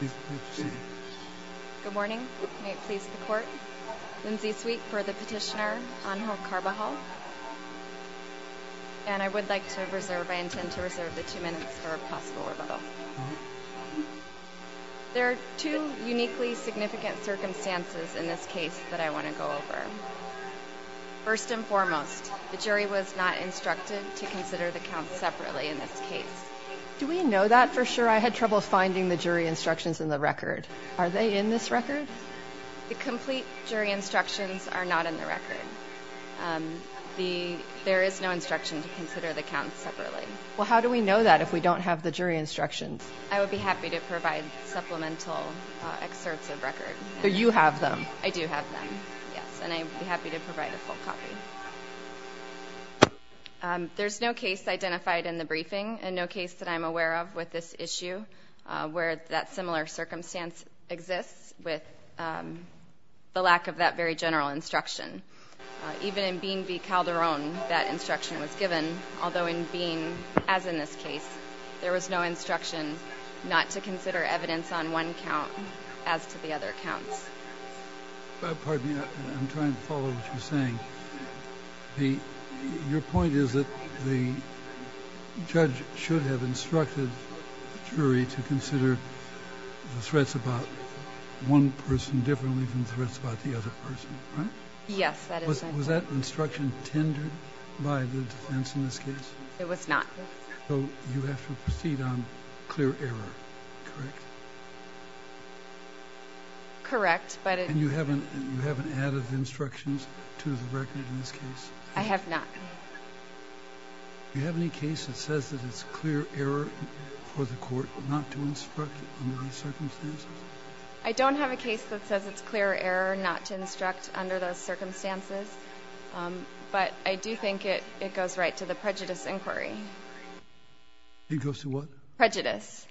Good morning. May it please the court. Lindsay Sweet for the petitioner, Angel Carbajal, and I would like to reserve, I intend to reserve the two minutes for a possible rebuttal. There are two uniquely significant circumstances in this case that I want to go over. First and foremost, the jury was not instructed to consider the counts separately in this case. Do we know that for sure? I had trouble finding the jury instructions in the record. Are they in this record? The complete jury instructions are not in the record. There is no instruction to consider the counts separately. Well, how do we know that if we don't have the jury instructions? I would be happy to provide supplemental excerpts of record. So you have them? I do have them, yes, and I would be happy to provide a full copy. There's no case identified in the briefing and no case that I'm aware of with this issue where that similar circumstance exists with the lack of that very general instruction. Even in Bean v. Calderon, that instruction was given, although in Bean, as in this case, there was no instruction not to consider evidence on one count as to the other counts. Pardon me, I'm trying to follow what you're saying. Your point is that the judge should have instructed the jury to consider the threats about one person differently from threats about the other person, right? Yes, that is my point. Was that instruction tendered by the defense in this case? It was not. So you have to proceed on clear error, correct? Correct. And you haven't added instructions to the record in this case? I have not. Do you have any case that says that it's clear error for the court not to instruct under those circumstances? I don't have a case that says it's clear error not to instruct under those circumstances, but I do think it goes right to the prejudice inquiry. It goes to what? Prejudice.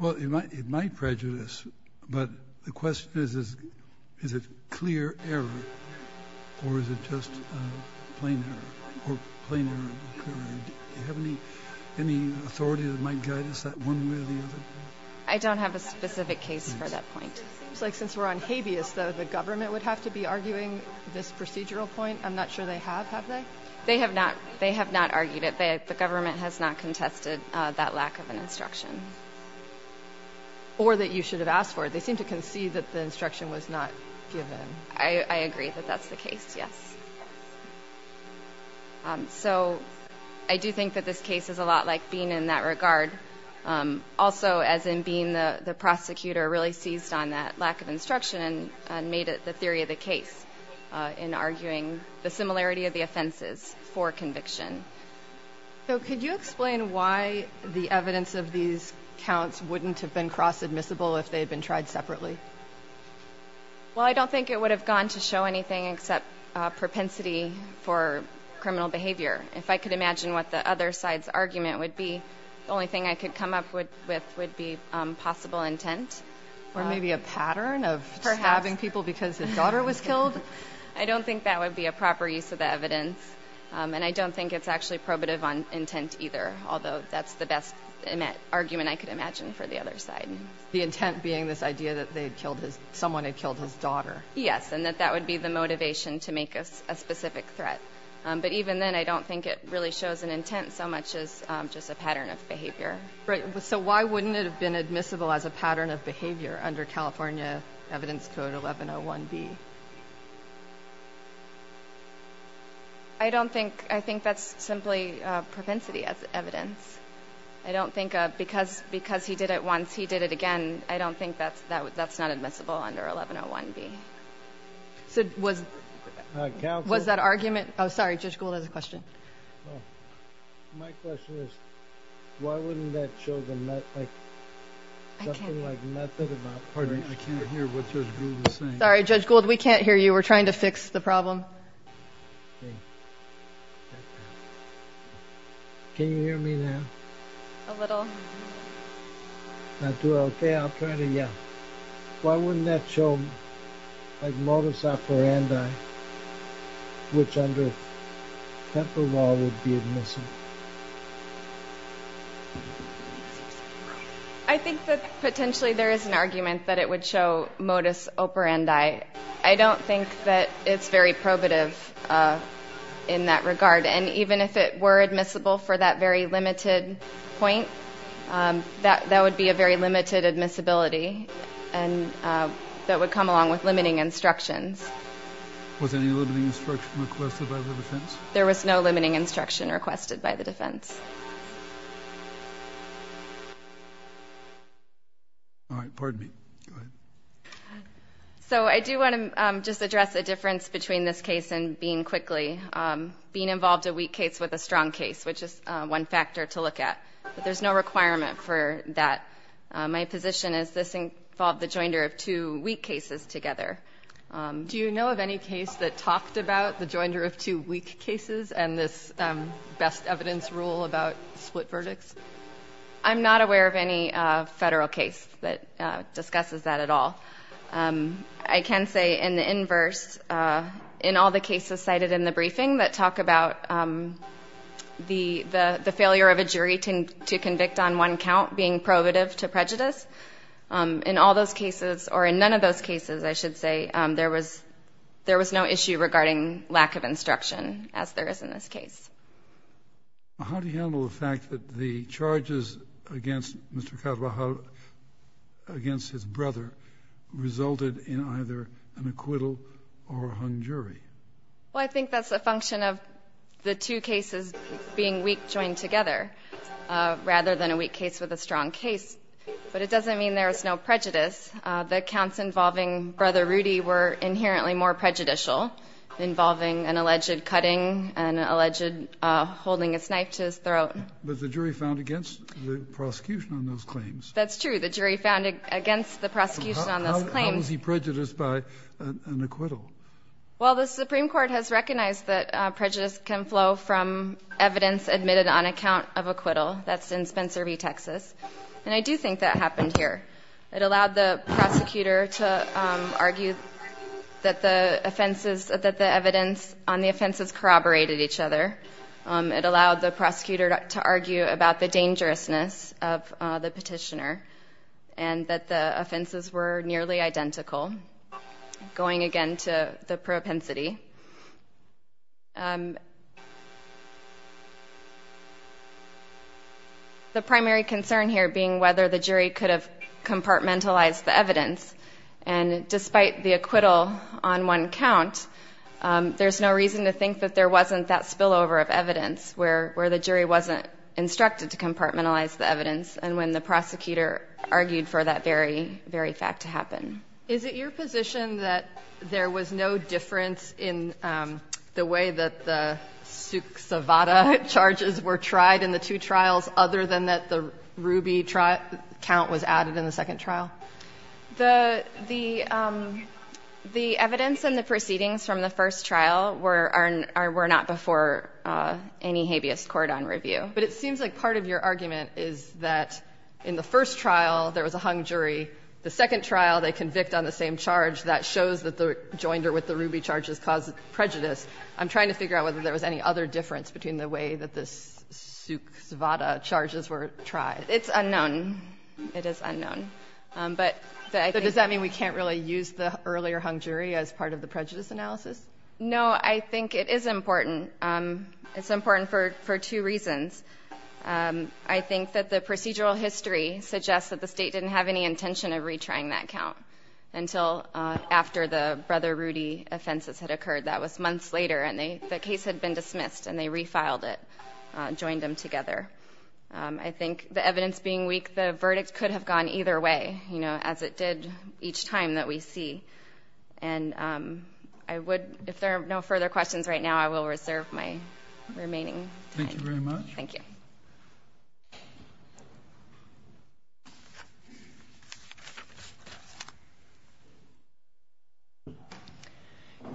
Well, it might prejudice, but the question is, is it clear error or is it just plain error? Do you have any authority that might guide us that one way or the other? I don't have a specific case for that point. It seems like since we're on habeas, though, the government would have to be arguing this procedural point. I'm not sure they have. Have they? They have not. They have not argued it. I would say the government has not contested that lack of an instruction. Or that you should have asked for it. They seem to concede that the instruction was not given. I agree that that's the case, yes. So I do think that this case is a lot like Bean in that regard. Also, as in Bean, the prosecutor really seized on that lack of instruction and made it the theory of the case in arguing the similarity of the offenses for conviction. So could you explain why the evidence of these counts wouldn't have been cross-admissible if they had been tried separately? Well, I don't think it would have gone to show anything except propensity for criminal behavior. If I could imagine what the other side's argument would be, the only thing I could come up with would be possible intent. Or maybe a pattern of stabbing people because his daughter was killed? I don't think that would be a proper use of the evidence. And I don't think it's actually probative on intent either, although that's the best argument I could imagine for the other side. The intent being this idea that someone had killed his daughter. Yes, and that that would be the motivation to make a specific threat. But even then, I don't think it really shows an intent so much as just a pattern of behavior. Right. So why wouldn't it have been admissible as a pattern of behavior under California Evidence Code 1101B? I don't think. I think that's simply propensity as evidence. I don't think because he did it once, he did it again. I don't think that's not admissible under 1101B. So was that argument? Oh, sorry. Judge Gould has a question. My question is, why wouldn't that show something like method about... Pardon me, I can't hear what Judge Gould is saying. Sorry, Judge Gould, we can't hear you. We're trying to fix the problem. Can you hear me now? A little. Not too well. Okay, I'll try to, yeah. Why wouldn't that show like modus operandi, which under temper law would be admissible? I think that potentially there is an argument that it would show modus operandi. I don't think that it's very probative in that regard. And even if it were admissible for that very limited point, that would be a very limited admissibility. And that would come along with limiting instructions. Was any limiting instruction requested by the defense? There was no limiting instruction requested by the defense. All right, pardon me. Go ahead. So I do want to just address the difference between this case and being quickly. Being involved in a weak case with a strong case, which is one factor to look at. But there's no requirement for that. My position is this involved the joinder of two weak cases together. Do you know of any case that talked about the joinder of two weak cases and this best evidence rule about split verdicts? I'm not aware of any federal case that discusses that at all. I can say in the inverse, in all the cases cited in the briefing that talk about the failure of a jury to convict on one count and not being probative to prejudice, in all those cases, or in none of those cases, I should say, there was no issue regarding lack of instruction, as there is in this case. How do you handle the fact that the charges against Mr. Kadwaha, against his brother, resulted in either an acquittal or a hung jury? Well, I think that's a function of the two cases being weak joined together, rather than a weak case with a strong case. But it doesn't mean there is no prejudice. The counts involving Brother Rudy were inherently more prejudicial, involving an alleged cutting, an alleged holding a knife to his throat. But the jury found against the prosecution on those claims. That's true. The jury found against the prosecution on those claims. How was he prejudiced by an acquittal? Well, the Supreme Court has recognized that prejudice can flow from evidence admitted on account of acquittal. That's in Spencer v. Texas. And I do think that happened here. It allowed the prosecutor to argue that the offenses, that the evidence on the offenses corroborated each other. It allowed the prosecutor to argue about the dangerousness of the petitioner and that the offenses were nearly identical. Going again to the propensity. The primary concern here being whether the jury could have compartmentalized the evidence. And despite the acquittal on one count, there's no reason to think that there wasn't that spillover of evidence where the jury wasn't instructed to compartmentalize the evidence. And when the prosecutor argued for that very fact to happen. Is it your position that there was no difference in the way that the Suk Savada charges were tried in the two trials other than that the Ruby count was added in the second trial? The evidence and the proceedings from the first trial were not before any habeas cordon review. But it seems like part of your argument is that in the first trial there was a hung jury. The second trial they convict on the same charge. That shows that the joinder with the Ruby charges caused prejudice. I'm trying to figure out whether there was any other difference between the way that this Suk Savada charges were tried. It's unknown. It is unknown. But does that mean we can't really use the earlier hung jury as part of the prejudice analysis? No, I think it is important. It's important for two reasons. I think that the procedural history suggests that the state didn't have any intention of retrying that count until after the Brother Rudy offenses had occurred. That was months later. And the case had been dismissed. And they refiled it. Joined them together. I think the evidence being weak, the verdict could have gone either way. As it did each time that we see. And if there are no further questions right now, I will reserve my remaining time. Thank you very much. Thank you.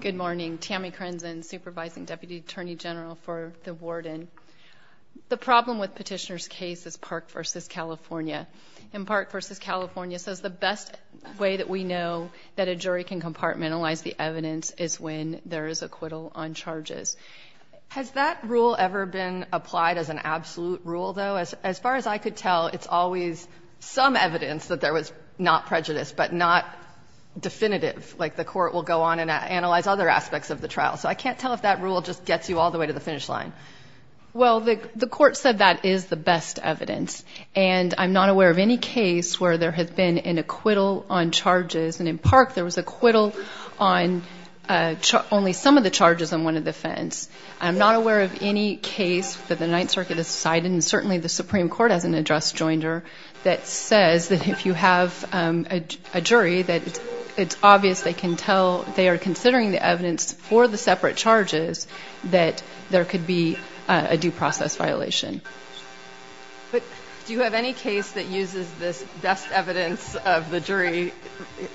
Good morning. Tammy Crenson, Supervising Deputy Attorney General for the Warden. The problem with Petitioner's case is Park v. California. And Park v. California says the best way that we know that a jury can compartmentalize the evidence is when there is acquittal on charges. Has that rule ever been applied as an absolute rule, though? As far as I could tell, it's always some evidence that there was not prejudice, but not definitive. Like the court will go on and analyze other aspects of the trial. So I can't tell if that rule just gets you all the way to the finish line. Well, the court said that is the best evidence. And I'm not aware of any case where there has been an acquittal on charges. And in Park, there was acquittal on only some of the charges on one of the offense. I'm not aware of any case that the Ninth Circuit has cited, and certainly the Supreme Court hasn't addressed Joinder, that says that if you have a jury that it's obvious they can tell they are considering the evidence for the separate charges, that there could be a due process violation. But do you have any case that uses this best evidence of the jury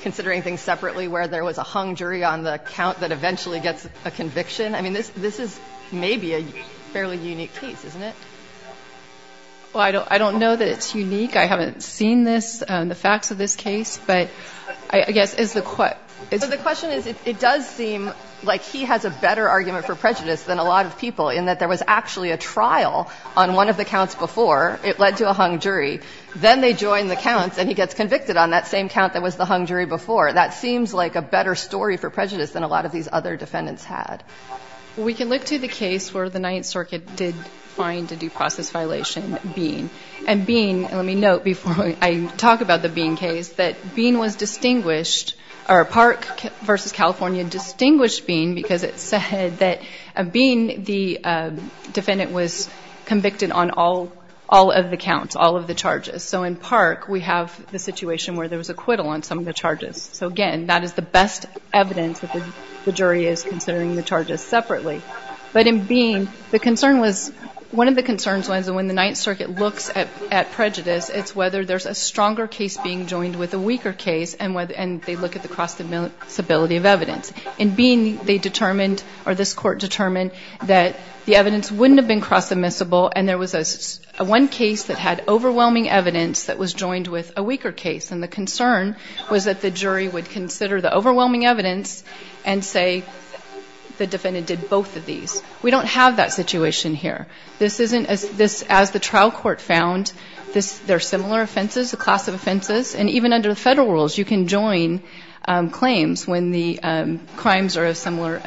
considering things separately, where there was a hung jury on the count that eventually gets a conviction? I mean, this is maybe a fairly unique case, isn't it? Well, I don't know that it's unique. I haven't seen this, the facts of this case. But I guess is the question is it does seem like he has a better argument for prejudice than a lot of people, in that there was actually a trial on one of the counts before. It led to a hung jury. Then they join the counts, and he gets convicted on that same count that was the hung jury before. That seems like a better story for prejudice than a lot of these other defendants had. We can look to the case where the Ninth Circuit did find a due process violation, Bean. And Bean, let me note before I talk about the Bean case, that Bean was distinguished, or Park v. California distinguished Bean because it said that Bean, the defendant, was convicted on all of the counts, all of the charges. So in Park, we have the situation where there was acquittal on some of the charges. So, again, that is the best evidence that the jury is considering the charges separately. But in Bean, the concern was, one of the concerns, when the Ninth Circuit looks at prejudice, it's whether there's a stronger case being joined with a weaker case, and they look at the cross-admissibility of evidence. In Bean, they determined, or this Court determined, that the evidence wouldn't have been cross-admissible, and there was one case that had overwhelming evidence that was joined with a weaker case. And the concern was that the jury would consider the overwhelming evidence and say the defendant did both of these. We don't have that situation here. This isn't, as the trial court found, they're similar offenses, a class of offenses. And even under the federal rules, you can join claims when the crimes are of similar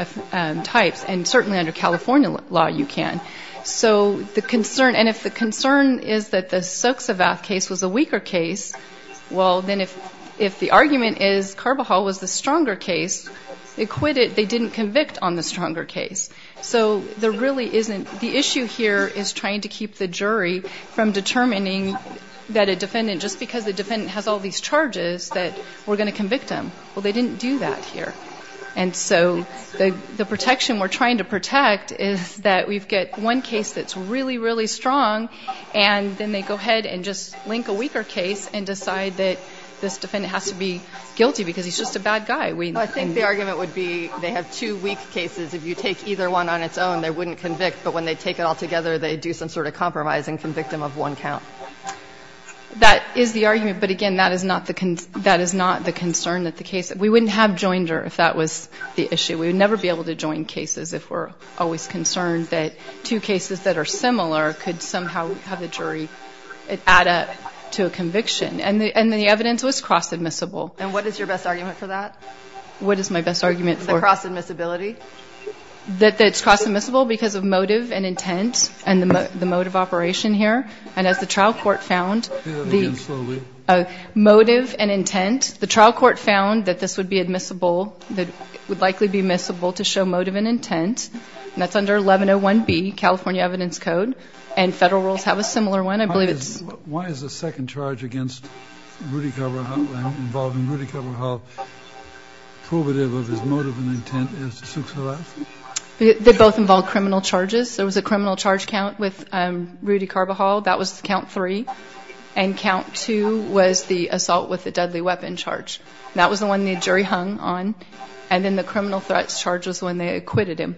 types. And certainly under California law, you can. So the concern, and if the concern is that the Soksavath case was a weaker case, well, then if the argument is Carbajal was the stronger case, they quit it, they didn't convict on the stronger case. So there really isn't, the issue here is trying to keep the jury from determining that a defendant, just because the defendant has all these charges, that we're going to convict him. Well, they didn't do that here. And so the protection we're trying to protect is that we get one case that's really, really strong, and then they go ahead and just link a weaker case and decide that this defendant has to be guilty because he's just a bad guy. Well, I think the argument would be they have two weak cases. If you take either one on its own, they wouldn't convict. But when they take it all together, they do some sort of compromise and convict him of one count. That is the argument, but again, that is not the concern that the case, we wouldn't have joined her if that was the issue. We would never be able to join cases if we're always concerned that two cases that are similar could somehow have the jury add up to a conviction. And the evidence was cross-admissible. And what is your best argument for that? What is my best argument for cross-admissibility? That it's cross-admissible because of motive and intent and the motive operation here. And as the trial court found the motive and intent, the trial court found that this would be admissible, that it would likely be admissible to show motive and intent. And that's under 1101B, California Evidence Code. And federal rules have a similar one. Why is the second charge against Rudy Carbajal, involving Rudy Carbajal, provative of his motive and intent? They both involve criminal charges. There was a criminal charge count with Rudy Carbajal. That was count three. And count two was the assault with a deadly weapon charge. That was the one the jury hung on. And then the criminal threats charge was the one they acquitted him.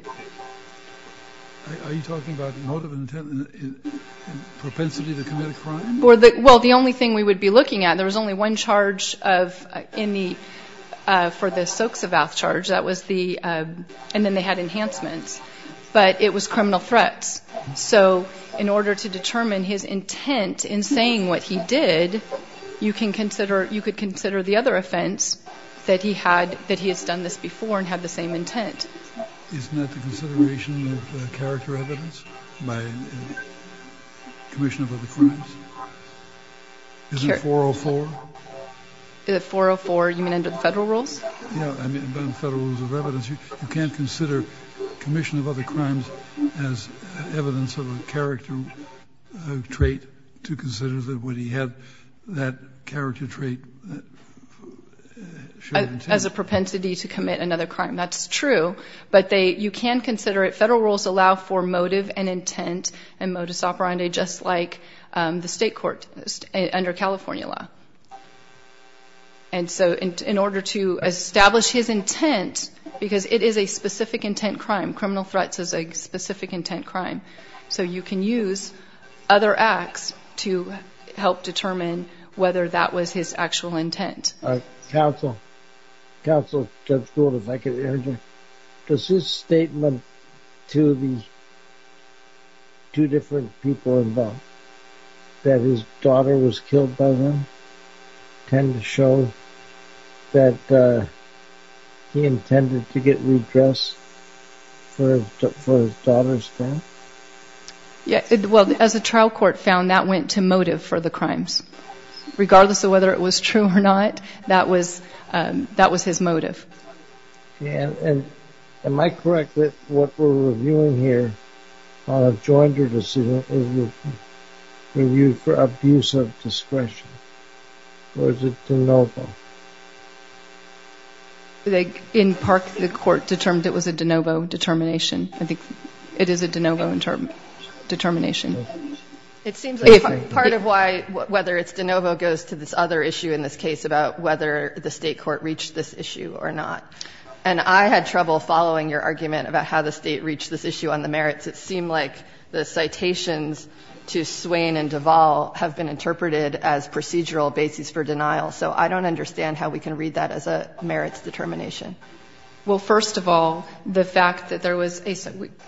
Are you talking about motive and intent and propensity to commit a crime? Well, the only thing we would be looking at, there was only one charge for the Soksovath charge, and then they had enhancements. But it was criminal threats. So in order to determine his intent in saying what he did, you could consider the other offense that he has done this before and had the same intent. Isn't that the consideration of character evidence by commission of other crimes? Isn't it 404? Is it 404, you mean under the federal rules? Yeah, under the federal rules of evidence. You can't consider commission of other crimes as evidence of a character trait to consider that he had that character trait. As a propensity to commit another crime. That's true. But you can consider it. Federal rules allow for motive and intent and modus operandi, just like the state court under California law. And so in order to establish his intent, because it is a specific intent crime, criminal threats is a specific intent crime, so you can use other acts to help determine whether that was his actual intent. Counsel, Judge Gould, if I could urge you, does his statement to these two different people involved, that his daughter was killed by him, tend to show that he intended to get redressed for his daughter's death? Well, as the trial court found, that went to motive for the crimes. Regardless of whether it was true or not, that was his motive. Yeah, and am I correct that what we're reviewing here, on a joint or decision, is reviewed for abuse of discretion? Or is it de novo? In part, the court determined it was a de novo determination. I think it is a de novo determination. It seems like part of why whether it's de novo goes to this other issue in this case about whether the state court reached this issue or not. And I had trouble following your argument about how the state reached this issue on the merits. It seemed like the citations to Swain and Duval have been interpreted as procedural basis for denial. So I don't understand how we can read that as a merits determination. Well, first of all, the fact that there was a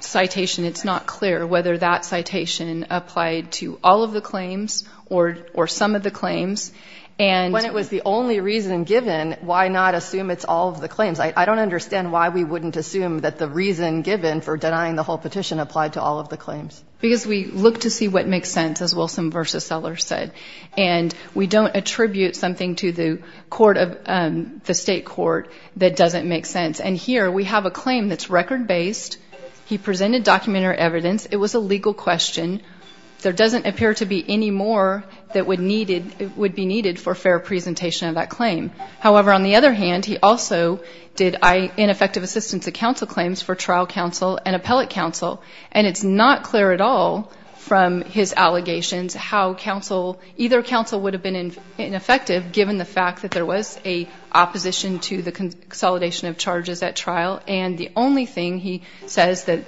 citation, it's not clear whether that citation applied to all of the claims or some of the claims. When it was the only reason given, why not assume it's all of the claims? I don't understand why we wouldn't assume that the reason given for denying the whole petition applied to all of the claims. Because we look to see what makes sense, as Wilson v. Sellers said. And we don't attribute something to the state court that doesn't make sense. And here we have a claim that's record-based. He presented document or evidence. It was a legal question. There doesn't appear to be any more that would be needed for fair presentation of that claim. However, on the other hand, he also did ineffective assistance to counsel claims for trial counsel and appellate counsel. And it's not clear at all from his allegations how either counsel would have been ineffective, given the fact that there was an opposition to the consolidation of charges at trial. And the only thing he says that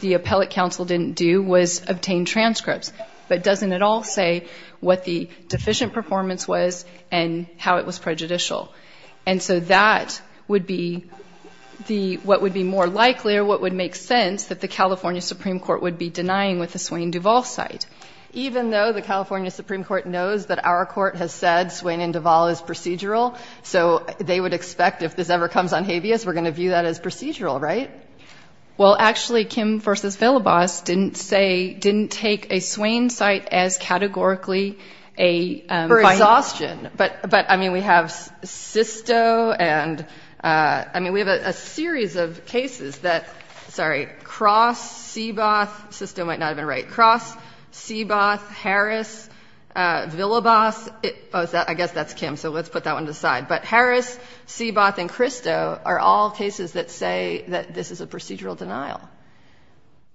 the appellate counsel didn't do was obtain transcripts, but doesn't at all say what the deficient performance was and how it was prejudicial. And so that would be what would be more likely or what would make sense that the California Supreme Court would be denying with the Swain and Duvall site. Even though the California Supreme Court knows that our court has said Swain and Duvall is procedural, so they would expect if this ever comes on habeas, we're going to view that as procedural, right? Well, actually, Kim v. Villabas didn't say, didn't take a Swain site as categorically a finding. For exhaustion. But, I mean, we have Sisto and, I mean, we have a series of cases that, sorry, Cross, Seaboth. Sisto might not have been right. Cross, Seaboth, Harris, Villabas. I guess that's Kim, so let's put that one to the side. But Harris, Seaboth, and Cristo are all cases that say that this is a procedural denial.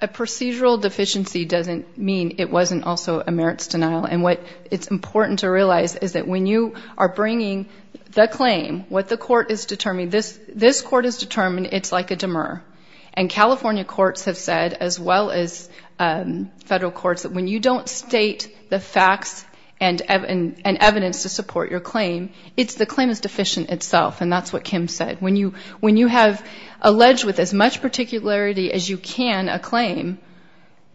A procedural deficiency doesn't mean it wasn't also a merits denial. And what it's important to realize is that when you are bringing the claim, what the court is determining, this court has determined it's like a demur. And California courts have said, as well as federal courts, that when you don't state the facts and evidence to support your claim, the claim is deficient itself. And that's what Kim said. When you have alleged with as much particularity as you can a claim,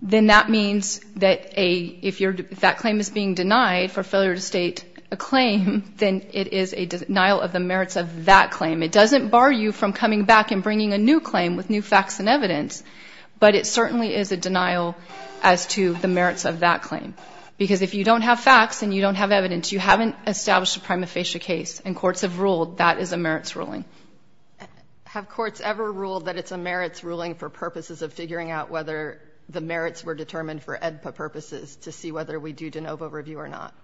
then that means that if that claim is being denied for failure to state a claim, then it is a denial of the merits of that claim. It doesn't bar you from coming back and bringing a new claim with new facts and evidence, but it certainly is a denial as to the merits of that claim. Because if you don't have facts and you don't have evidence, you haven't established a prima facie case, and courts have ruled that is a merits ruling. Have courts ever ruled that it's a merits ruling for purposes of figuring out whether the merits were determined for AEDPA purposes to see whether we do de novo review or not?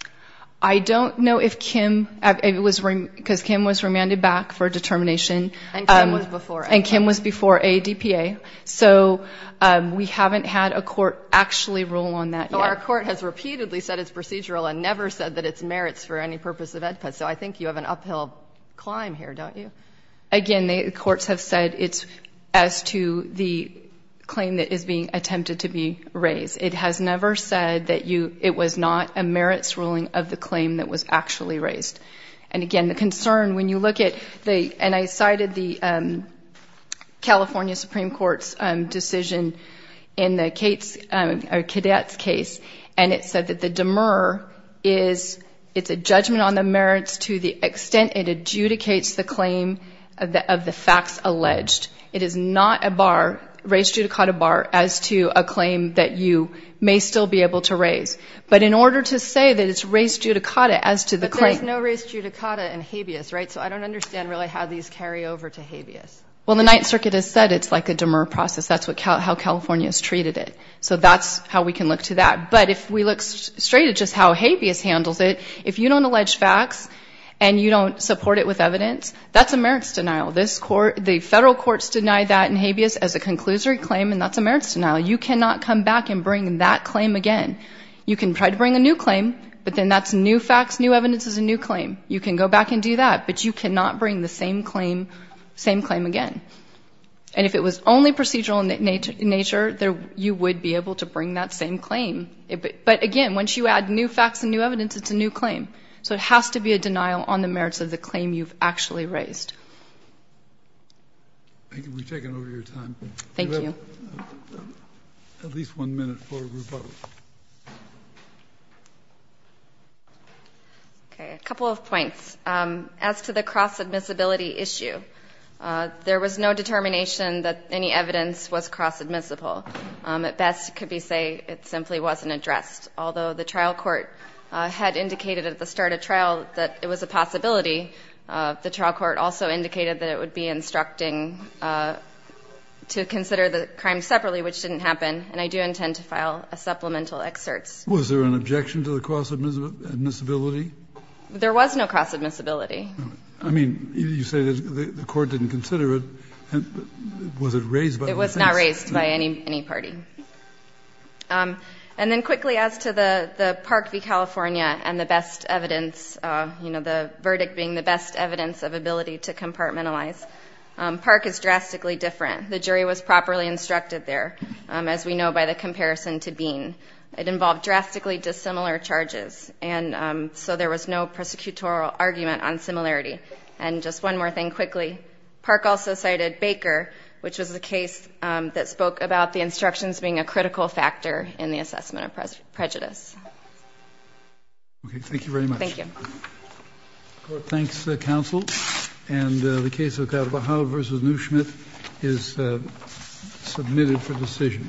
I don't know if Kim... Because Kim was remanded back for determination. And Kim was before AEDPA. And Kim was before AEDPA. So we haven't had a court actually rule on that yet. So our court has repeatedly said it's procedural and never said that it's merits for any purpose of AEDPA. So I think you have an uphill climb here, don't you? Again, the courts have said it's as to the claim that is being attempted to be raised. It has never said that it was not a merits ruling of the claim that was actually raised. And again, the concern, when you look at the... And I cited the California Supreme Court's decision in the Cadets case, and it said that the demur is... merits to the extent it adjudicates the claim of the facts alleged. It is not a bar, raised judicata bar, as to a claim that you may still be able to raise. But in order to say that it's raised judicata as to the claim... But there's no raised judicata in habeas, right? So I don't understand really how these carry over to habeas. Well, the Ninth Circuit has said it's like a demur process. That's how California has treated it. So that's how we can look to that. But if we look straight at just how habeas handles it, if you don't allege facts and you don't support it with evidence, that's a merits denial. The federal courts deny that in habeas as a conclusory claim, and that's a merits denial. You cannot come back and bring that claim again. You can try to bring a new claim, but then that's new facts, new evidence is a new claim. You can go back and do that, but you cannot bring the same claim again. And if it was only procedural in nature, But again, once you add new facts and new evidence, it's a new claim. So it has to be a denial on the merits of the claim you've actually raised. Thank you. We've taken over your time. Thank you. You have at least one minute for rebuttal. Okay. A couple of points. As to the cross-admissibility issue, there was no determination that any evidence was cross-admissible. At best, it could be said it simply wasn't addressed, although the trial court had indicated at the start of trial that it was a possibility. The trial court also indicated that it would be instructing to consider the crime separately, which didn't happen. And I do intend to file a supplemental excerpt. Was there an objection to the cross-admissibility? There was no cross-admissibility. I mean, you say the court didn't consider it. Was it raised by the defense? It was not raised by any party. And then quickly as to the Park v. California and the best evidence, you know, the verdict being the best evidence of ability to compartmentalize. Park is drastically different. The jury was properly instructed there, as we know by the comparison to Bean. It involved drastically dissimilar charges, and so there was no prosecutorial argument on similarity. And just one more thing quickly. Park also cited Baker, which was the case that spoke about the instructions being a critical factor in the assessment of prejudice. Okay. Thank you very much. Thank you. Thanks, counsel. And the case of Carvajal v. Neuschmidt is submitted for decision.